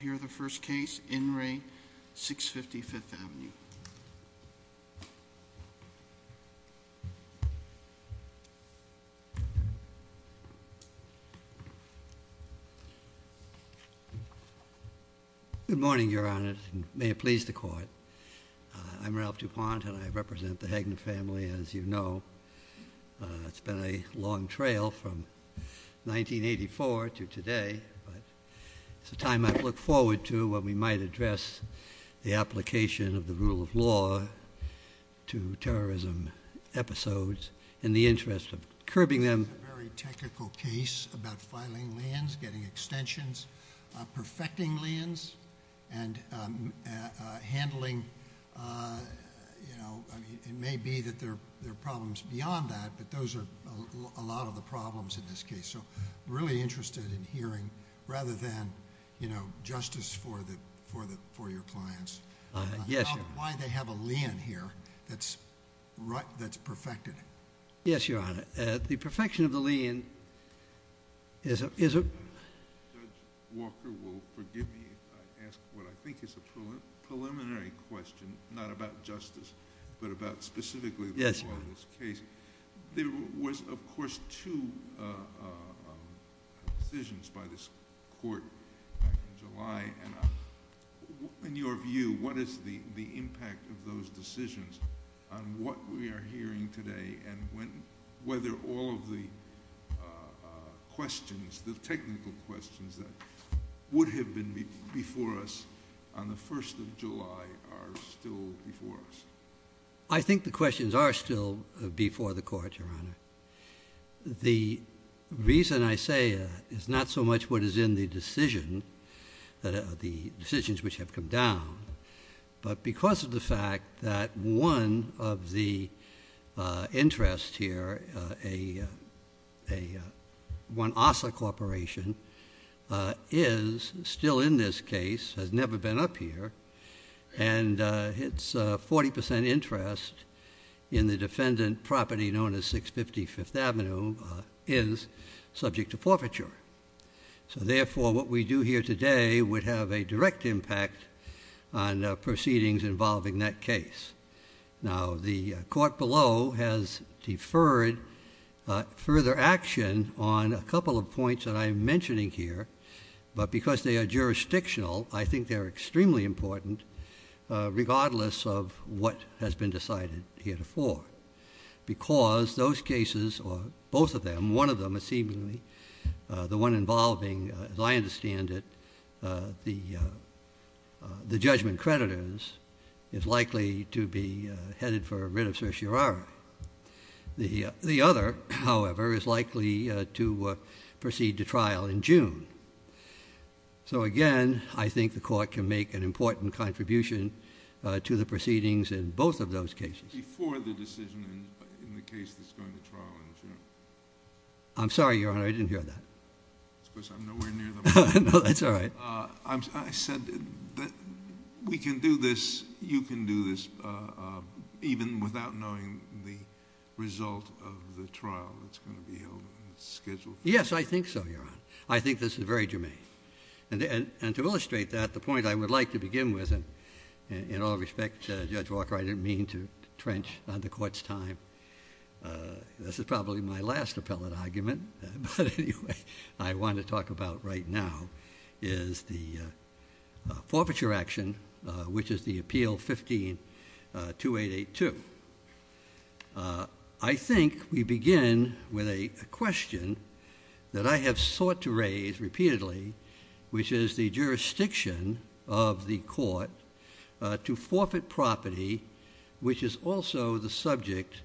Hear the first case in re 650 Fifth Avenue. Good morning, Your Honor. May it please the court. I'm Ralph DuPont and I represent the Hagen family. As you know, it's been a long trail from 1984 to today, but it's a time I look forward to when we might address the application of the rule of law to terrorism episodes in the interest of curbing them. A very technical case about filing liens, getting extensions, perfecting liens, and handling, you know, it may be that there are problems beyond that, but those are a lot of the problems in this case. So I'm really interested in hearing, rather than, you know, justice for your clients, about why they have a lien here that's perfected. Yes, Your Honor. The perfection of the lien is a... Judge Walker will forgive me if I ask what I think is a preliminary question, not about justice, but about specifically the law of this case. There was, of course, two decisions by this court back in July, and in your view, what is the impact of those decisions on what we are hearing today and whether all of the questions, the technical questions that would have been before us on the 1st of July are still before us? I think the questions are still before the court, Your Honor. The reason I say is not so much what is in the decision, the decisions which have come down, but because of the fact that one of the interests here, a Juan Assa Corporation, is still in this case, has never been up here, and its 40% interest in the defendant property known as 650 5th Avenue is subject to forfeiture. So therefore, what we do here today would have a direct impact on proceedings involving that case. Now, the court below has deferred further action on a couple of points that I'm mentioning here, but because they are jurisdictional, I think they're extremely important, regardless of what has been decided here before, because those cases, or both of them, one of them is seemingly the one involving, as I understand it, the judgment creditors, is likely to be headed for a writ of certiorari. The other, however, is likely to make an important contribution to the proceedings in both of those cases. Before the decision in the case that's going to trial in June. I'm sorry, Your Honor, I didn't hear that. It's because I'm nowhere near the mic. No, that's all right. I said that we can do this, you can do this, even without knowing the result of the trial that's going to be held and scheduled. Yes, I think so, Your Honor. I think this is very germane. And to illustrate that, the point I would like to begin with, and in all respect, Judge Walker, I didn't mean to trench on the court's time. This is probably my last appellate argument, but anyway, I want to talk about right now is the forfeiture action, which is the Appeal 15-2882. I think we begin with a question that I have sought to raise repeatedly, which is the jurisdiction of the court to forfeit property, which is also the subject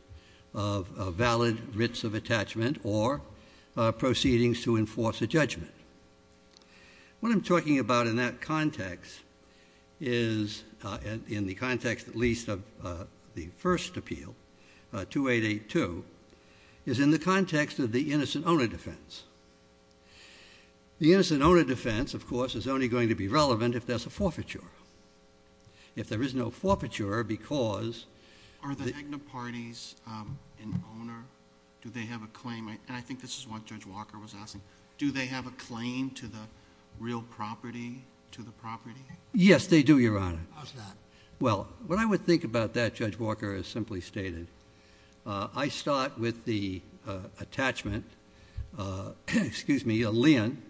of a valid writs of attachment or proceedings to enforce a judgment. What I'm talking about in that context is, in the context, at least, of the first appeal, 2882, is in the context of the innocent owner defense. The innocent owner defense, of course, is only going to be relevant if there's a forfeiture. If there is no forfeiture, because... Are the Agna parties an owner? Do they have a claim? And I think this is what Judge Walker was asking. Do they have a claim to the real property, to the property? Yes, they do, Your Honor. How's that? Well, what I would think about that, Judge Walker, is simply stated. I start with the attachment, excuse me, a lien,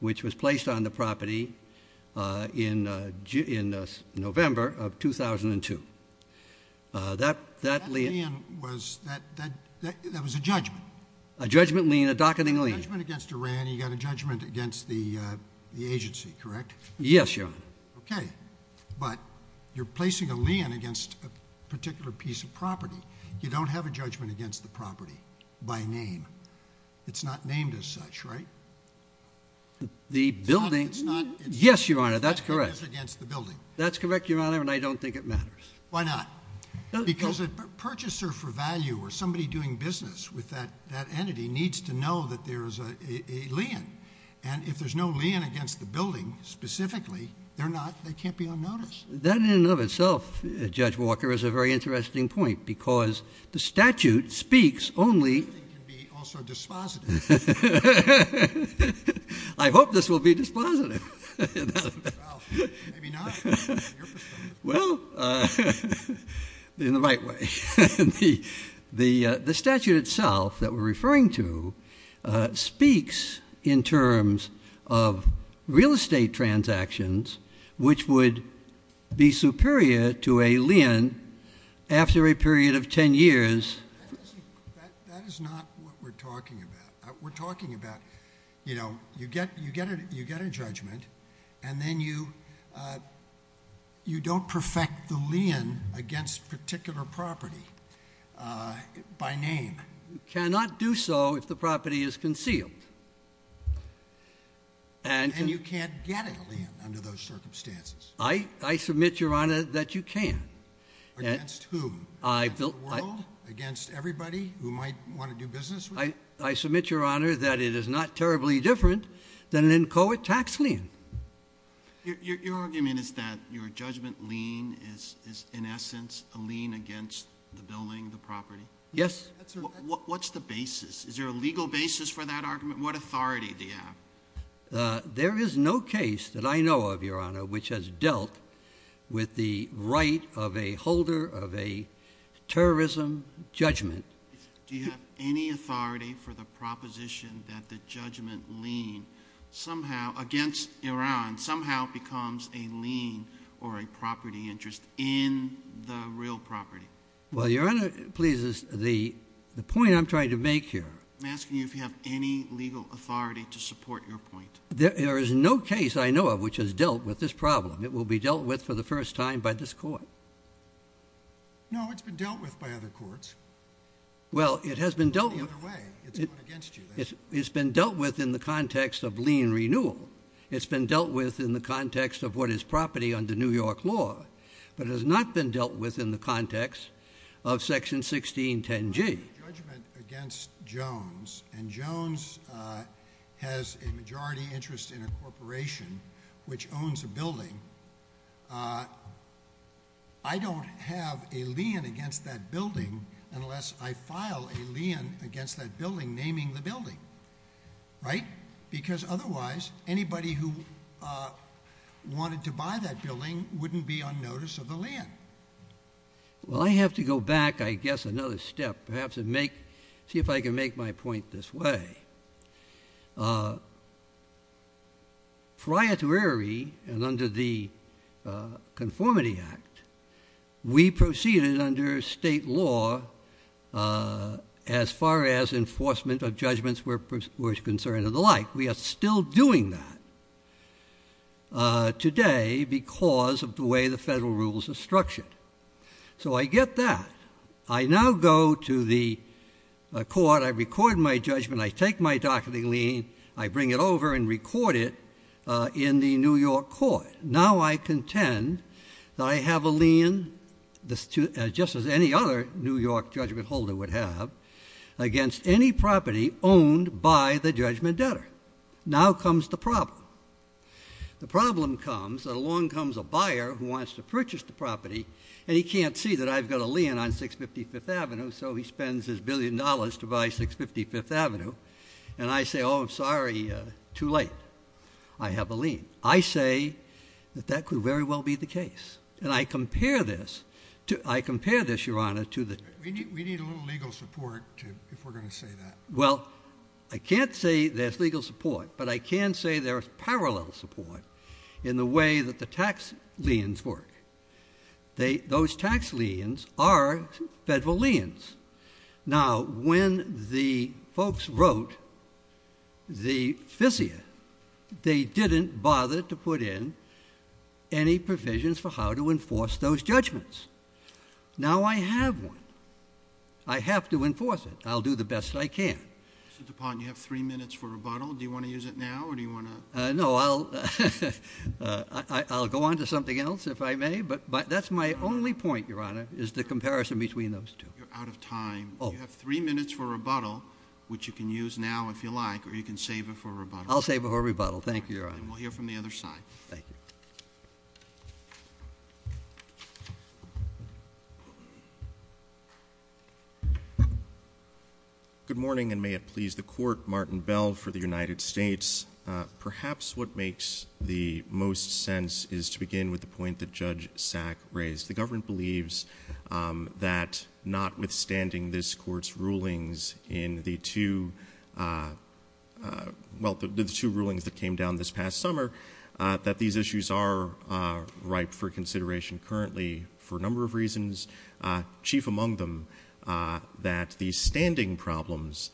which was placed on the property in November of 2002. That lien was... That was a judgment. A judgment lien, a docketing lien. A judgment against Iran, you got a judgment against the agency, correct? Yes, Your Honor. Okay, but you're placing a lien against a particular piece of property. You don't have a judgment against the property by name. It's not named as such, right? The building... It's not... Yes, Your Honor, that's correct. It's against the building. That's correct, Your Honor, and I don't think it matters. Why not? Because a purchaser for value or somebody doing business with that entity needs to know that there is a lien, and if there's no lien against the building specifically, they're not... They can't be on notice. That in and of itself, Judge Walker, is a very interesting point because the statute speaks only... The building can be also dispositive. I hope this will be dispositive. Maybe not. Well, in the right way. The statute itself that we're referring to speaks in terms of real estate transactions, which would be superior to a lien after a period of 10 years. That is not what we're talking about. We're talking about, you know, you get a judgment, and then you don't perfect the lien against particular property by name. You cannot do so if the property is concealed. And you can't get a lien under those circumstances. I submit, Your Honor, that you can. Against whom? Against the world? Against everybody who might want to do business with you? I submit, Your Honor, that it is not terribly different than an inchoate tax lien. Your argument is that your judgment lien is, in essence, a lien against the building, the property? Yes. What's the basis? Is there a legal basis for that argument? What authority do you have? There is no case that I know of, Your Honor, which has dealt with the right of a holder of a terrorism judgment. Do you have any authority for the proposition that the judgment lien somehow, against Iran, somehow becomes a lien or a property interest in the real property? Well, Your Honor, please, the point I'm trying to make here— I'm asking you if you have any legal authority to support your point. There is no case I know of which has dealt with this problem. It will be dealt with for the first time by this court. No, it's been dealt with by other courts. Well, it has been dealt with— It's the other way. It's going against you, then. It's been dealt with in the context of lien renewal. It's been dealt with in the context of what is property under New York law, but it has not been dealt with in the context of Section 1610G. I'm making a judgment against Jones, and Jones has a majority interest in a corporation which owns a building. I don't have a lien against that building unless I file a lien against that building, naming the building, right? Because otherwise, anybody who wanted to buy that building wouldn't be on notice of the lien. Well, I have to go back, I guess, another step, perhaps, and see if I can make my point this way. Prior to Erie and under the Conformity Act, we proceeded under state law as far as enforcement of judgments were concerned and the like. We are still doing that today because of the way the federal rules are structured. So I get that. I now go to the court. I record my judgment. I take my docketing lien. I bring it over and record it in the New York court. Now I contend that I have a lien, just as any other New York judgment holder would have, against any property owned by the judgment debtor. Now comes the problem. The problem comes that along comes a buyer who wants to purchase the property, and he can't see that I've got a lien on 655th Avenue, so he spends his billion dollars to buy 655th Avenue. And I say, oh, sorry, too late. I have a lien. I say that that could very well be the case. And I compare this, I compare this, Your Honor, to the- We need a little legal support if we're going to say that. Well, I can't say there's legal support, but I can say there's parallel support in the way that the tax liens work. They, those tax liens are federal liens. Now, when the folks wrote the fissia, they didn't bother to put in any provisions for how to enforce those judgments. Now I have one. I have to enforce it. I'll do the best I can. So, DuPont, you have three minutes for rebuttal. Do you want to use it now, or do you want to- No, I'll, I'll go on to something else if I may, but that's my only point, Your Honor, is the comparison between those two. You're out of time. You have three minutes for rebuttal, which you can use now if you like, or you can save it for rebuttal. I'll save it for rebuttal. Thank you, Your Honor. And we'll hear from the other side. Thank you. Good morning, and may it please the Court. Martin Bell for the United States. Perhaps what makes the most sense is to begin with the point that Judge Sack raised. The government believes that notwithstanding this Court's rulings in the two, well, the two rulings that came down this past summer, that these issues are ripe for consideration currently for a number of reasons, chief among them that the standing problems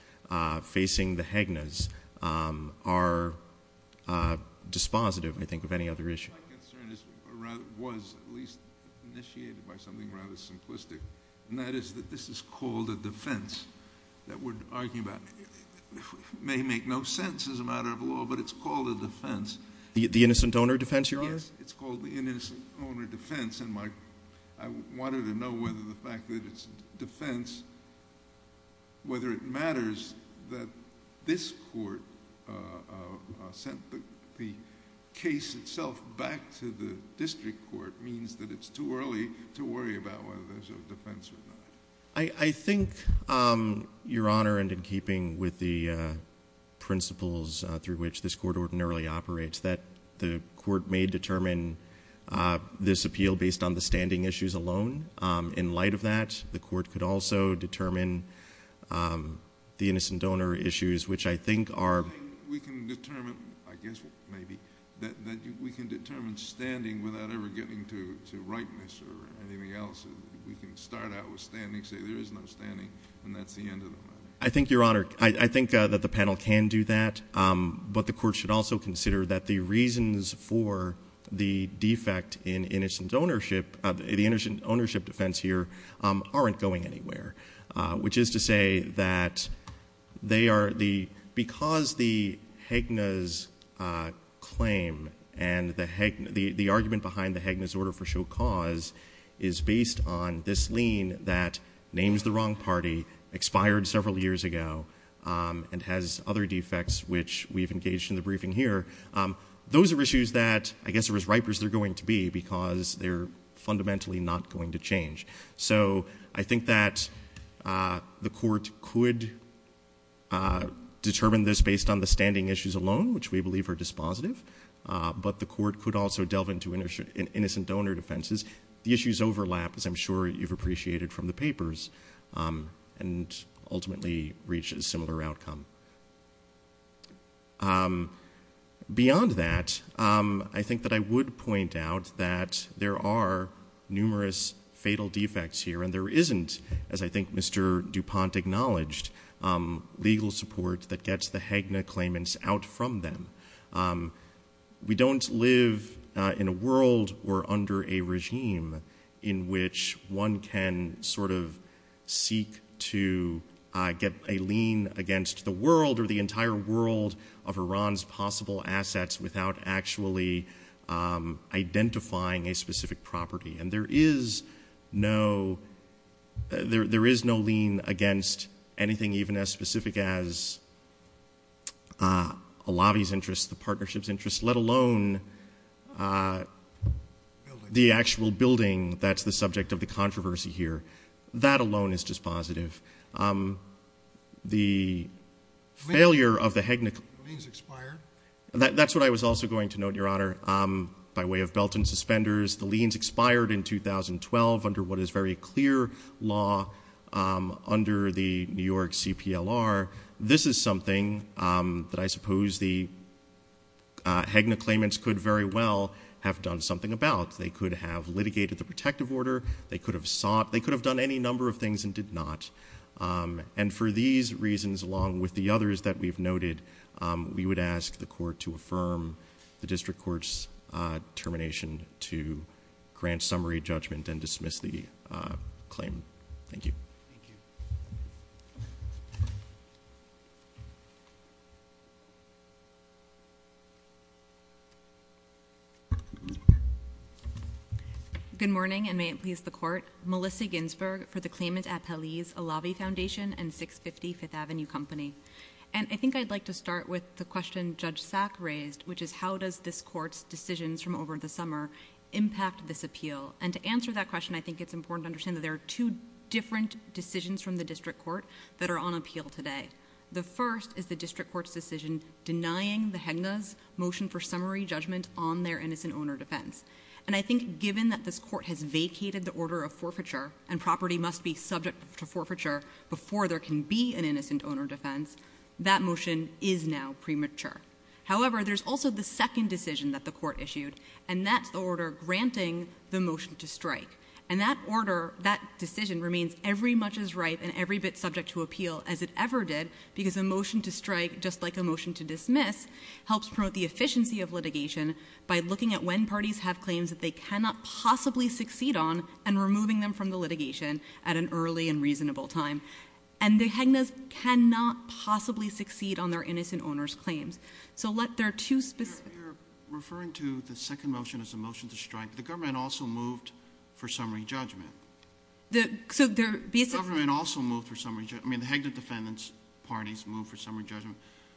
facing the Haguenas are dispositive, I think, of any other issue. My concern was at least initiated by something rather simplistic, and that is that this is called a defense that we're arguing about. It may make no sense as a matter of law, but it's called a defense. The innocent owner defense, Your Honor? Yes. It's called the innocent owner defense, and I wanted to know whether the fact that it's a defense, whether it matters that this Court sent the case itself back to the district court means that it's too early to worry about whether there's a defense or not. I think, Your Honor, and in keeping with the principles through which this Court ordinarily operates, that the Court may determine this appeal based on the standing issues alone. In light of that, the Court could also determine the innocent owner issues, which I think are... We can determine, I guess maybe, that we can determine standing without ever getting to rightness or anything else. We can start out with standing, say there is no standing, and that's the end of the matter. I think, Your Honor, I think that the panel can do that, but the Court should also consider that the reasons for the defect in innocent ownership, the innocent ownership defense here, aren't going anywhere, which is to say that they are... Because the Hegna's claim and the argument behind the Hegna's order for show cause is based on this lien that names the wrong party, expired several years ago, and has other defects, which we've engaged in the briefing here. Those are issues that, I guess, are as ripe as they're going to be because they're fundamentally not going to change. So, I think that the Court could determine this based on the standing issues alone, which we believe are dispositive, but the Court could also delve into innocent donor defenses. The issues overlap, as I'm sure you've appreciated from the papers, and ultimately reach a similar outcome. Beyond that, I think that I would point out that there are numerous fatal defects here, and there isn't, as I think Mr. DuPont acknowledged, legal support that gets the Hegna claimants out from them. We don't live in a world or under a regime in which one can seek to get a lien against the world or the entire world of Iran's possible assets without actually identifying a specific property. There is no lien against anything even as specific as a lobby's interest, the partnership's interest, let alone the actual building that's the subject of the controversy here. That alone is dispositive. That's what I was also going to note, Your Honor. By way of belt and suspenders, the liens expired in 2012 under what is very clear law under the New York CPLR. This is something that I suppose the Hegna claimants could very well have done something about. They could have litigated the protective order. They could have sought. They could have done any number of things and did not. And for these reasons, along with the others that we've noted, we would ask the court to affirm the district court's termination to grant summary judgment and dismiss the claim. Thank you. Good morning, and may it please the court. Melissa Ginsberg for the Claimant Appellees, a lobby foundation and 650 Fifth Avenue Company. And I think I'd like to start with the question Judge Sack raised, which is how does this court's decisions from over the summer impact this appeal? And to answer that question, I think it's important to understand that there are two different decisions from the district court that are on appeal today. The first is the district court's decision denying the Hegna's motion for summary judgment on their innocent owner defense. And I think given that this court has vacated the order of forfeiture and property must be subject to forfeiture before there can be an innocent owner defense, that motion is now premature. However, there's also the second decision that the court issued, and that's the order granting the motion to strike. And that order, that decision remains every much as right and every bit subject to appeal as it ever did because a motion to strike, just like a motion to dismiss, helps promote the efficiency of litigation by looking at when parties have claims that they cannot possibly succeed on and removing them from the litigation at an early and reasonable time. And the Hegna's cannot possibly succeed on their innocent owner's claims. So let their two specific— You're referring to the second motion as a motion to strike. The government also moved for summary judgment. The government also moved for summary judgment. I mean, the Hegna defendant's parties moved for summary judgment,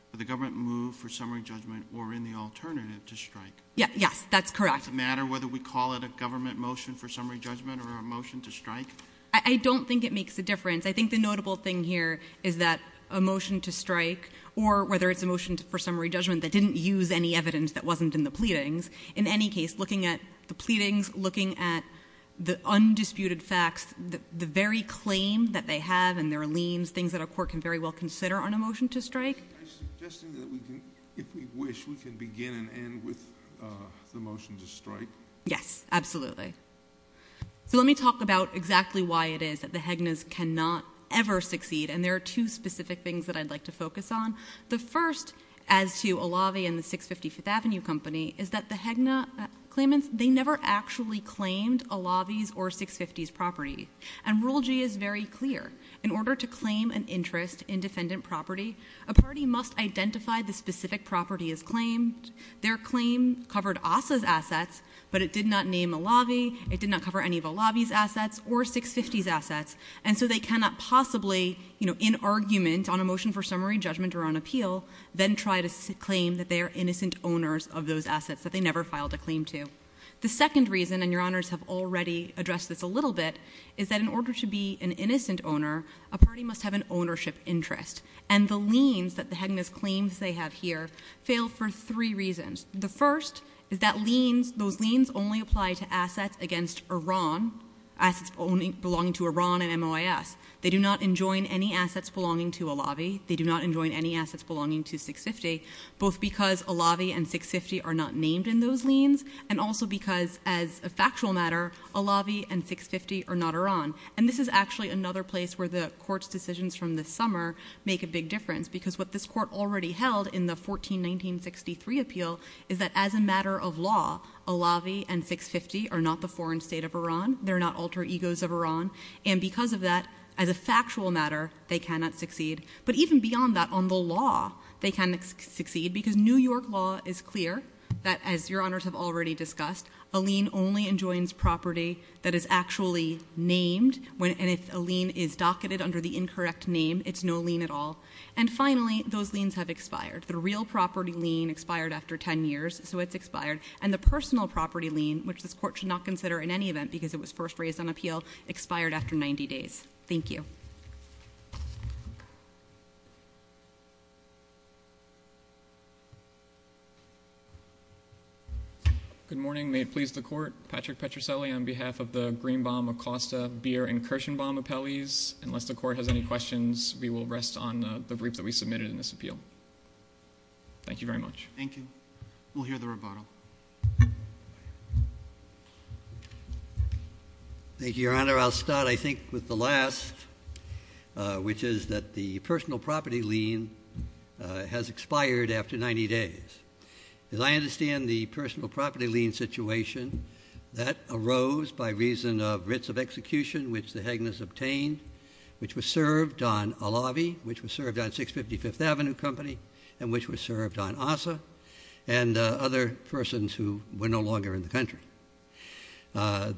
but the government moved for summary judgment or in the alternative to strike. Yes, that's correct. Does it matter whether we call it a government motion for summary judgment or a motion to strike? I don't think it makes a difference. I think the notable thing here is that a motion to strike or whether it's a motion for summary judgment that didn't use any evidence that wasn't in the pleadings, in any case, looking at the pleadings, looking at the undisputed facts, the very claim that they have and their liens, things that a court can very well consider on a motion to strike. Are you suggesting that we can, if we wish, we can begin and end with the motion to strike? Yes, absolutely. So let me talk about exactly why it is that the Hegna's cannot ever succeed. And there are two specific things that I'd like to focus on. The first, as to Alavi and the 650 Fifth Avenue Company, is that the Hegna claimants, they never actually claimed Alavi's or 650's property. And Rule G is very clear. In order to claim an interest in defendant property, a party must identify the specific property as claimed. Their claim covered Asa's assets, but it did not name Alavi. It did not cover any of Alavi's assets or 650's assets. And so they cannot possibly, you know, in argument on a motion for summary judgment or on appeal, then try to claim that they are innocent owners of those assets that they never filed a claim to. The second reason, and your honors have already addressed this a little bit, is that in order to be an innocent owner, a party must have an ownership interest. And the liens that the Hegna's claims they have here fail for three reasons. The first is that liens, those liens only apply to assets against Iran, assets belonging to Iran and MOIS. They do not enjoin any assets belonging to Alavi. They do not enjoin any assets belonging to 650, both because Alavi and 650 are not named in those liens, and also because as a factual matter, Alavi and 650 are not Iran. And this is actually another place where the court's decisions from this summer make a big difference, because what this court already held in the 14-1963 appeal is that as a matter of law, Alavi and 650 are not the foreign state of Iran. They're not alter egos of Iran. And because of that, as a factual matter, they cannot succeed. But even beyond that, on the law, they can succeed, because New York law is clear that as Your Honors have already discussed, a lien only enjoins property that is actually named, and if a lien is docketed under the incorrect name, it's no lien at all. And finally, those liens have expired. The real property lien expired after 10 years, so it's expired. And the personal property lien, which this court should not consider in any event because it was first raised on appeal, expired after 90 days. Thank you. MR. PETRICELLI. Good morning. May it please the Court, Patrick Petricelli on behalf of the Greenbaum, Acosta, Beer, and Kirshenbaum appellees. Unless the Court has any questions, we will rest on the brief that we submitted in this appeal. Thank you very much. GOLDBERG. Thank you. We'll hear the rebuttal. MR. GOLDBERG. Thank you, Your Honor. I'll start, I think, with the last, which is that the personal property lien has expired after 90 days. As I understand the personal property lien situation, that arose by reason of writs of execution, which the Hagners obtained, which was served on Alavi, which was served on 655th Street.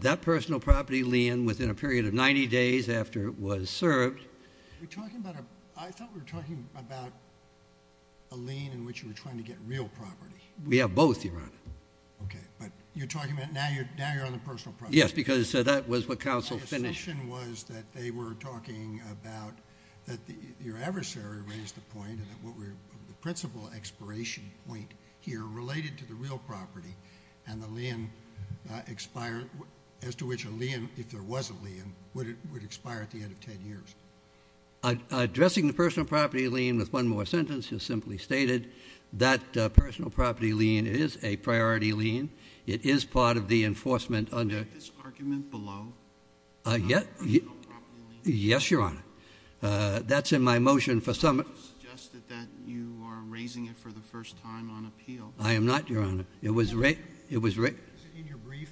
That personal property lien within a period of 90 days after it was served— MR. PETRICELLI. I thought we were talking about a lien in which you were trying to get real property. MR. GOLDBERG. We have both, Your Honor. MR. PETRICELLI. Okay. But you're talking about—now you're on the personal property. MR. GOLDBERG. Yes, because that was what counsel finished. My assumption was that they were talking about—that your adversary raised the point of the principal expiration point here related to the real property, and the lien expired as to which a lien, if there was a lien, would expire at the end of 10 years. MR. GOLDBERG. Addressing the personal property lien with one more sentence is simply stated. That personal property lien is a priority lien. It is part of the enforcement under— PETRICELLI. Is this argument below? MR. GOLDBERG. Yes, Your Honor. That's in my motion for— MR. PETRICELLI. Is it that you are raising it for the first time on appeal? MR. GOLDBERG. I am not, Your Honor. It was— PETRICELLI. Is it in your brief?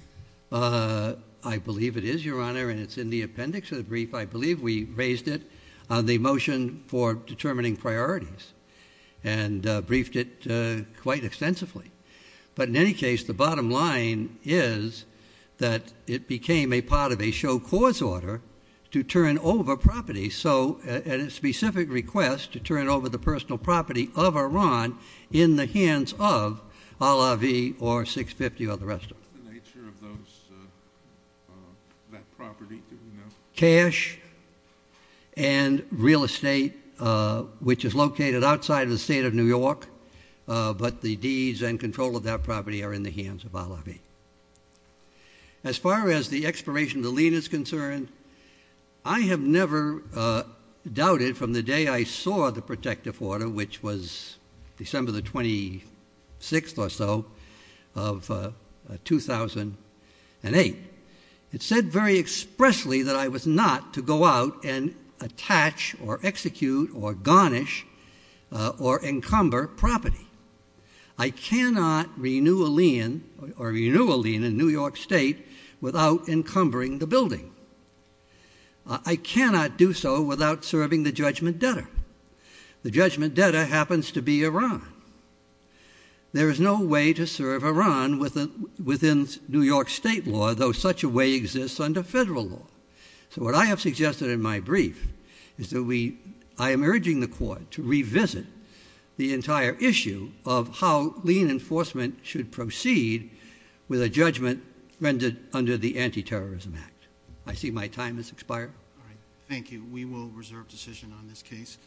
MR. GOLDBERG. I believe it is, Your Honor, and it's in the appendix of the brief. I believe we raised it on the motion for determining priorities and briefed it quite extensively. But in any case, the bottom line is that it became a part of a show cause order to turn over property. So at a specific request to turn over the personal property of Iran in the hands of Al-Avi or 650 or the rest of it. GOLDBERG. What's the nature of those—that property? Do we know? MR. PETRICELLI. Cash and real estate, which is located outside of the state of New York. But the deeds and control of that property are in the hands of Al-Avi. As far as the expiration of the lien is concerned, I have never doubted from the day I saw the protective order, which was December the 26th or so of 2008, it said very expressly that I was not to go out and attach or execute or garnish or encumber property. I cannot renew a lien or renew a lien in New York State without encumbering the building. I cannot do so without serving the judgment debtor. The judgment debtor happens to be Iran. There is no way to serve Iran within New York State law, though such a way exists under federal law. So what I have suggested in my brief is that we—I am urging the Court to revisit the entire issue of how lien enforcement should proceed with a judgment rendered under the Antiterrorism Act. CHIEF JUSTICE ROBERTS. Thank you. We will reserve decision on this case.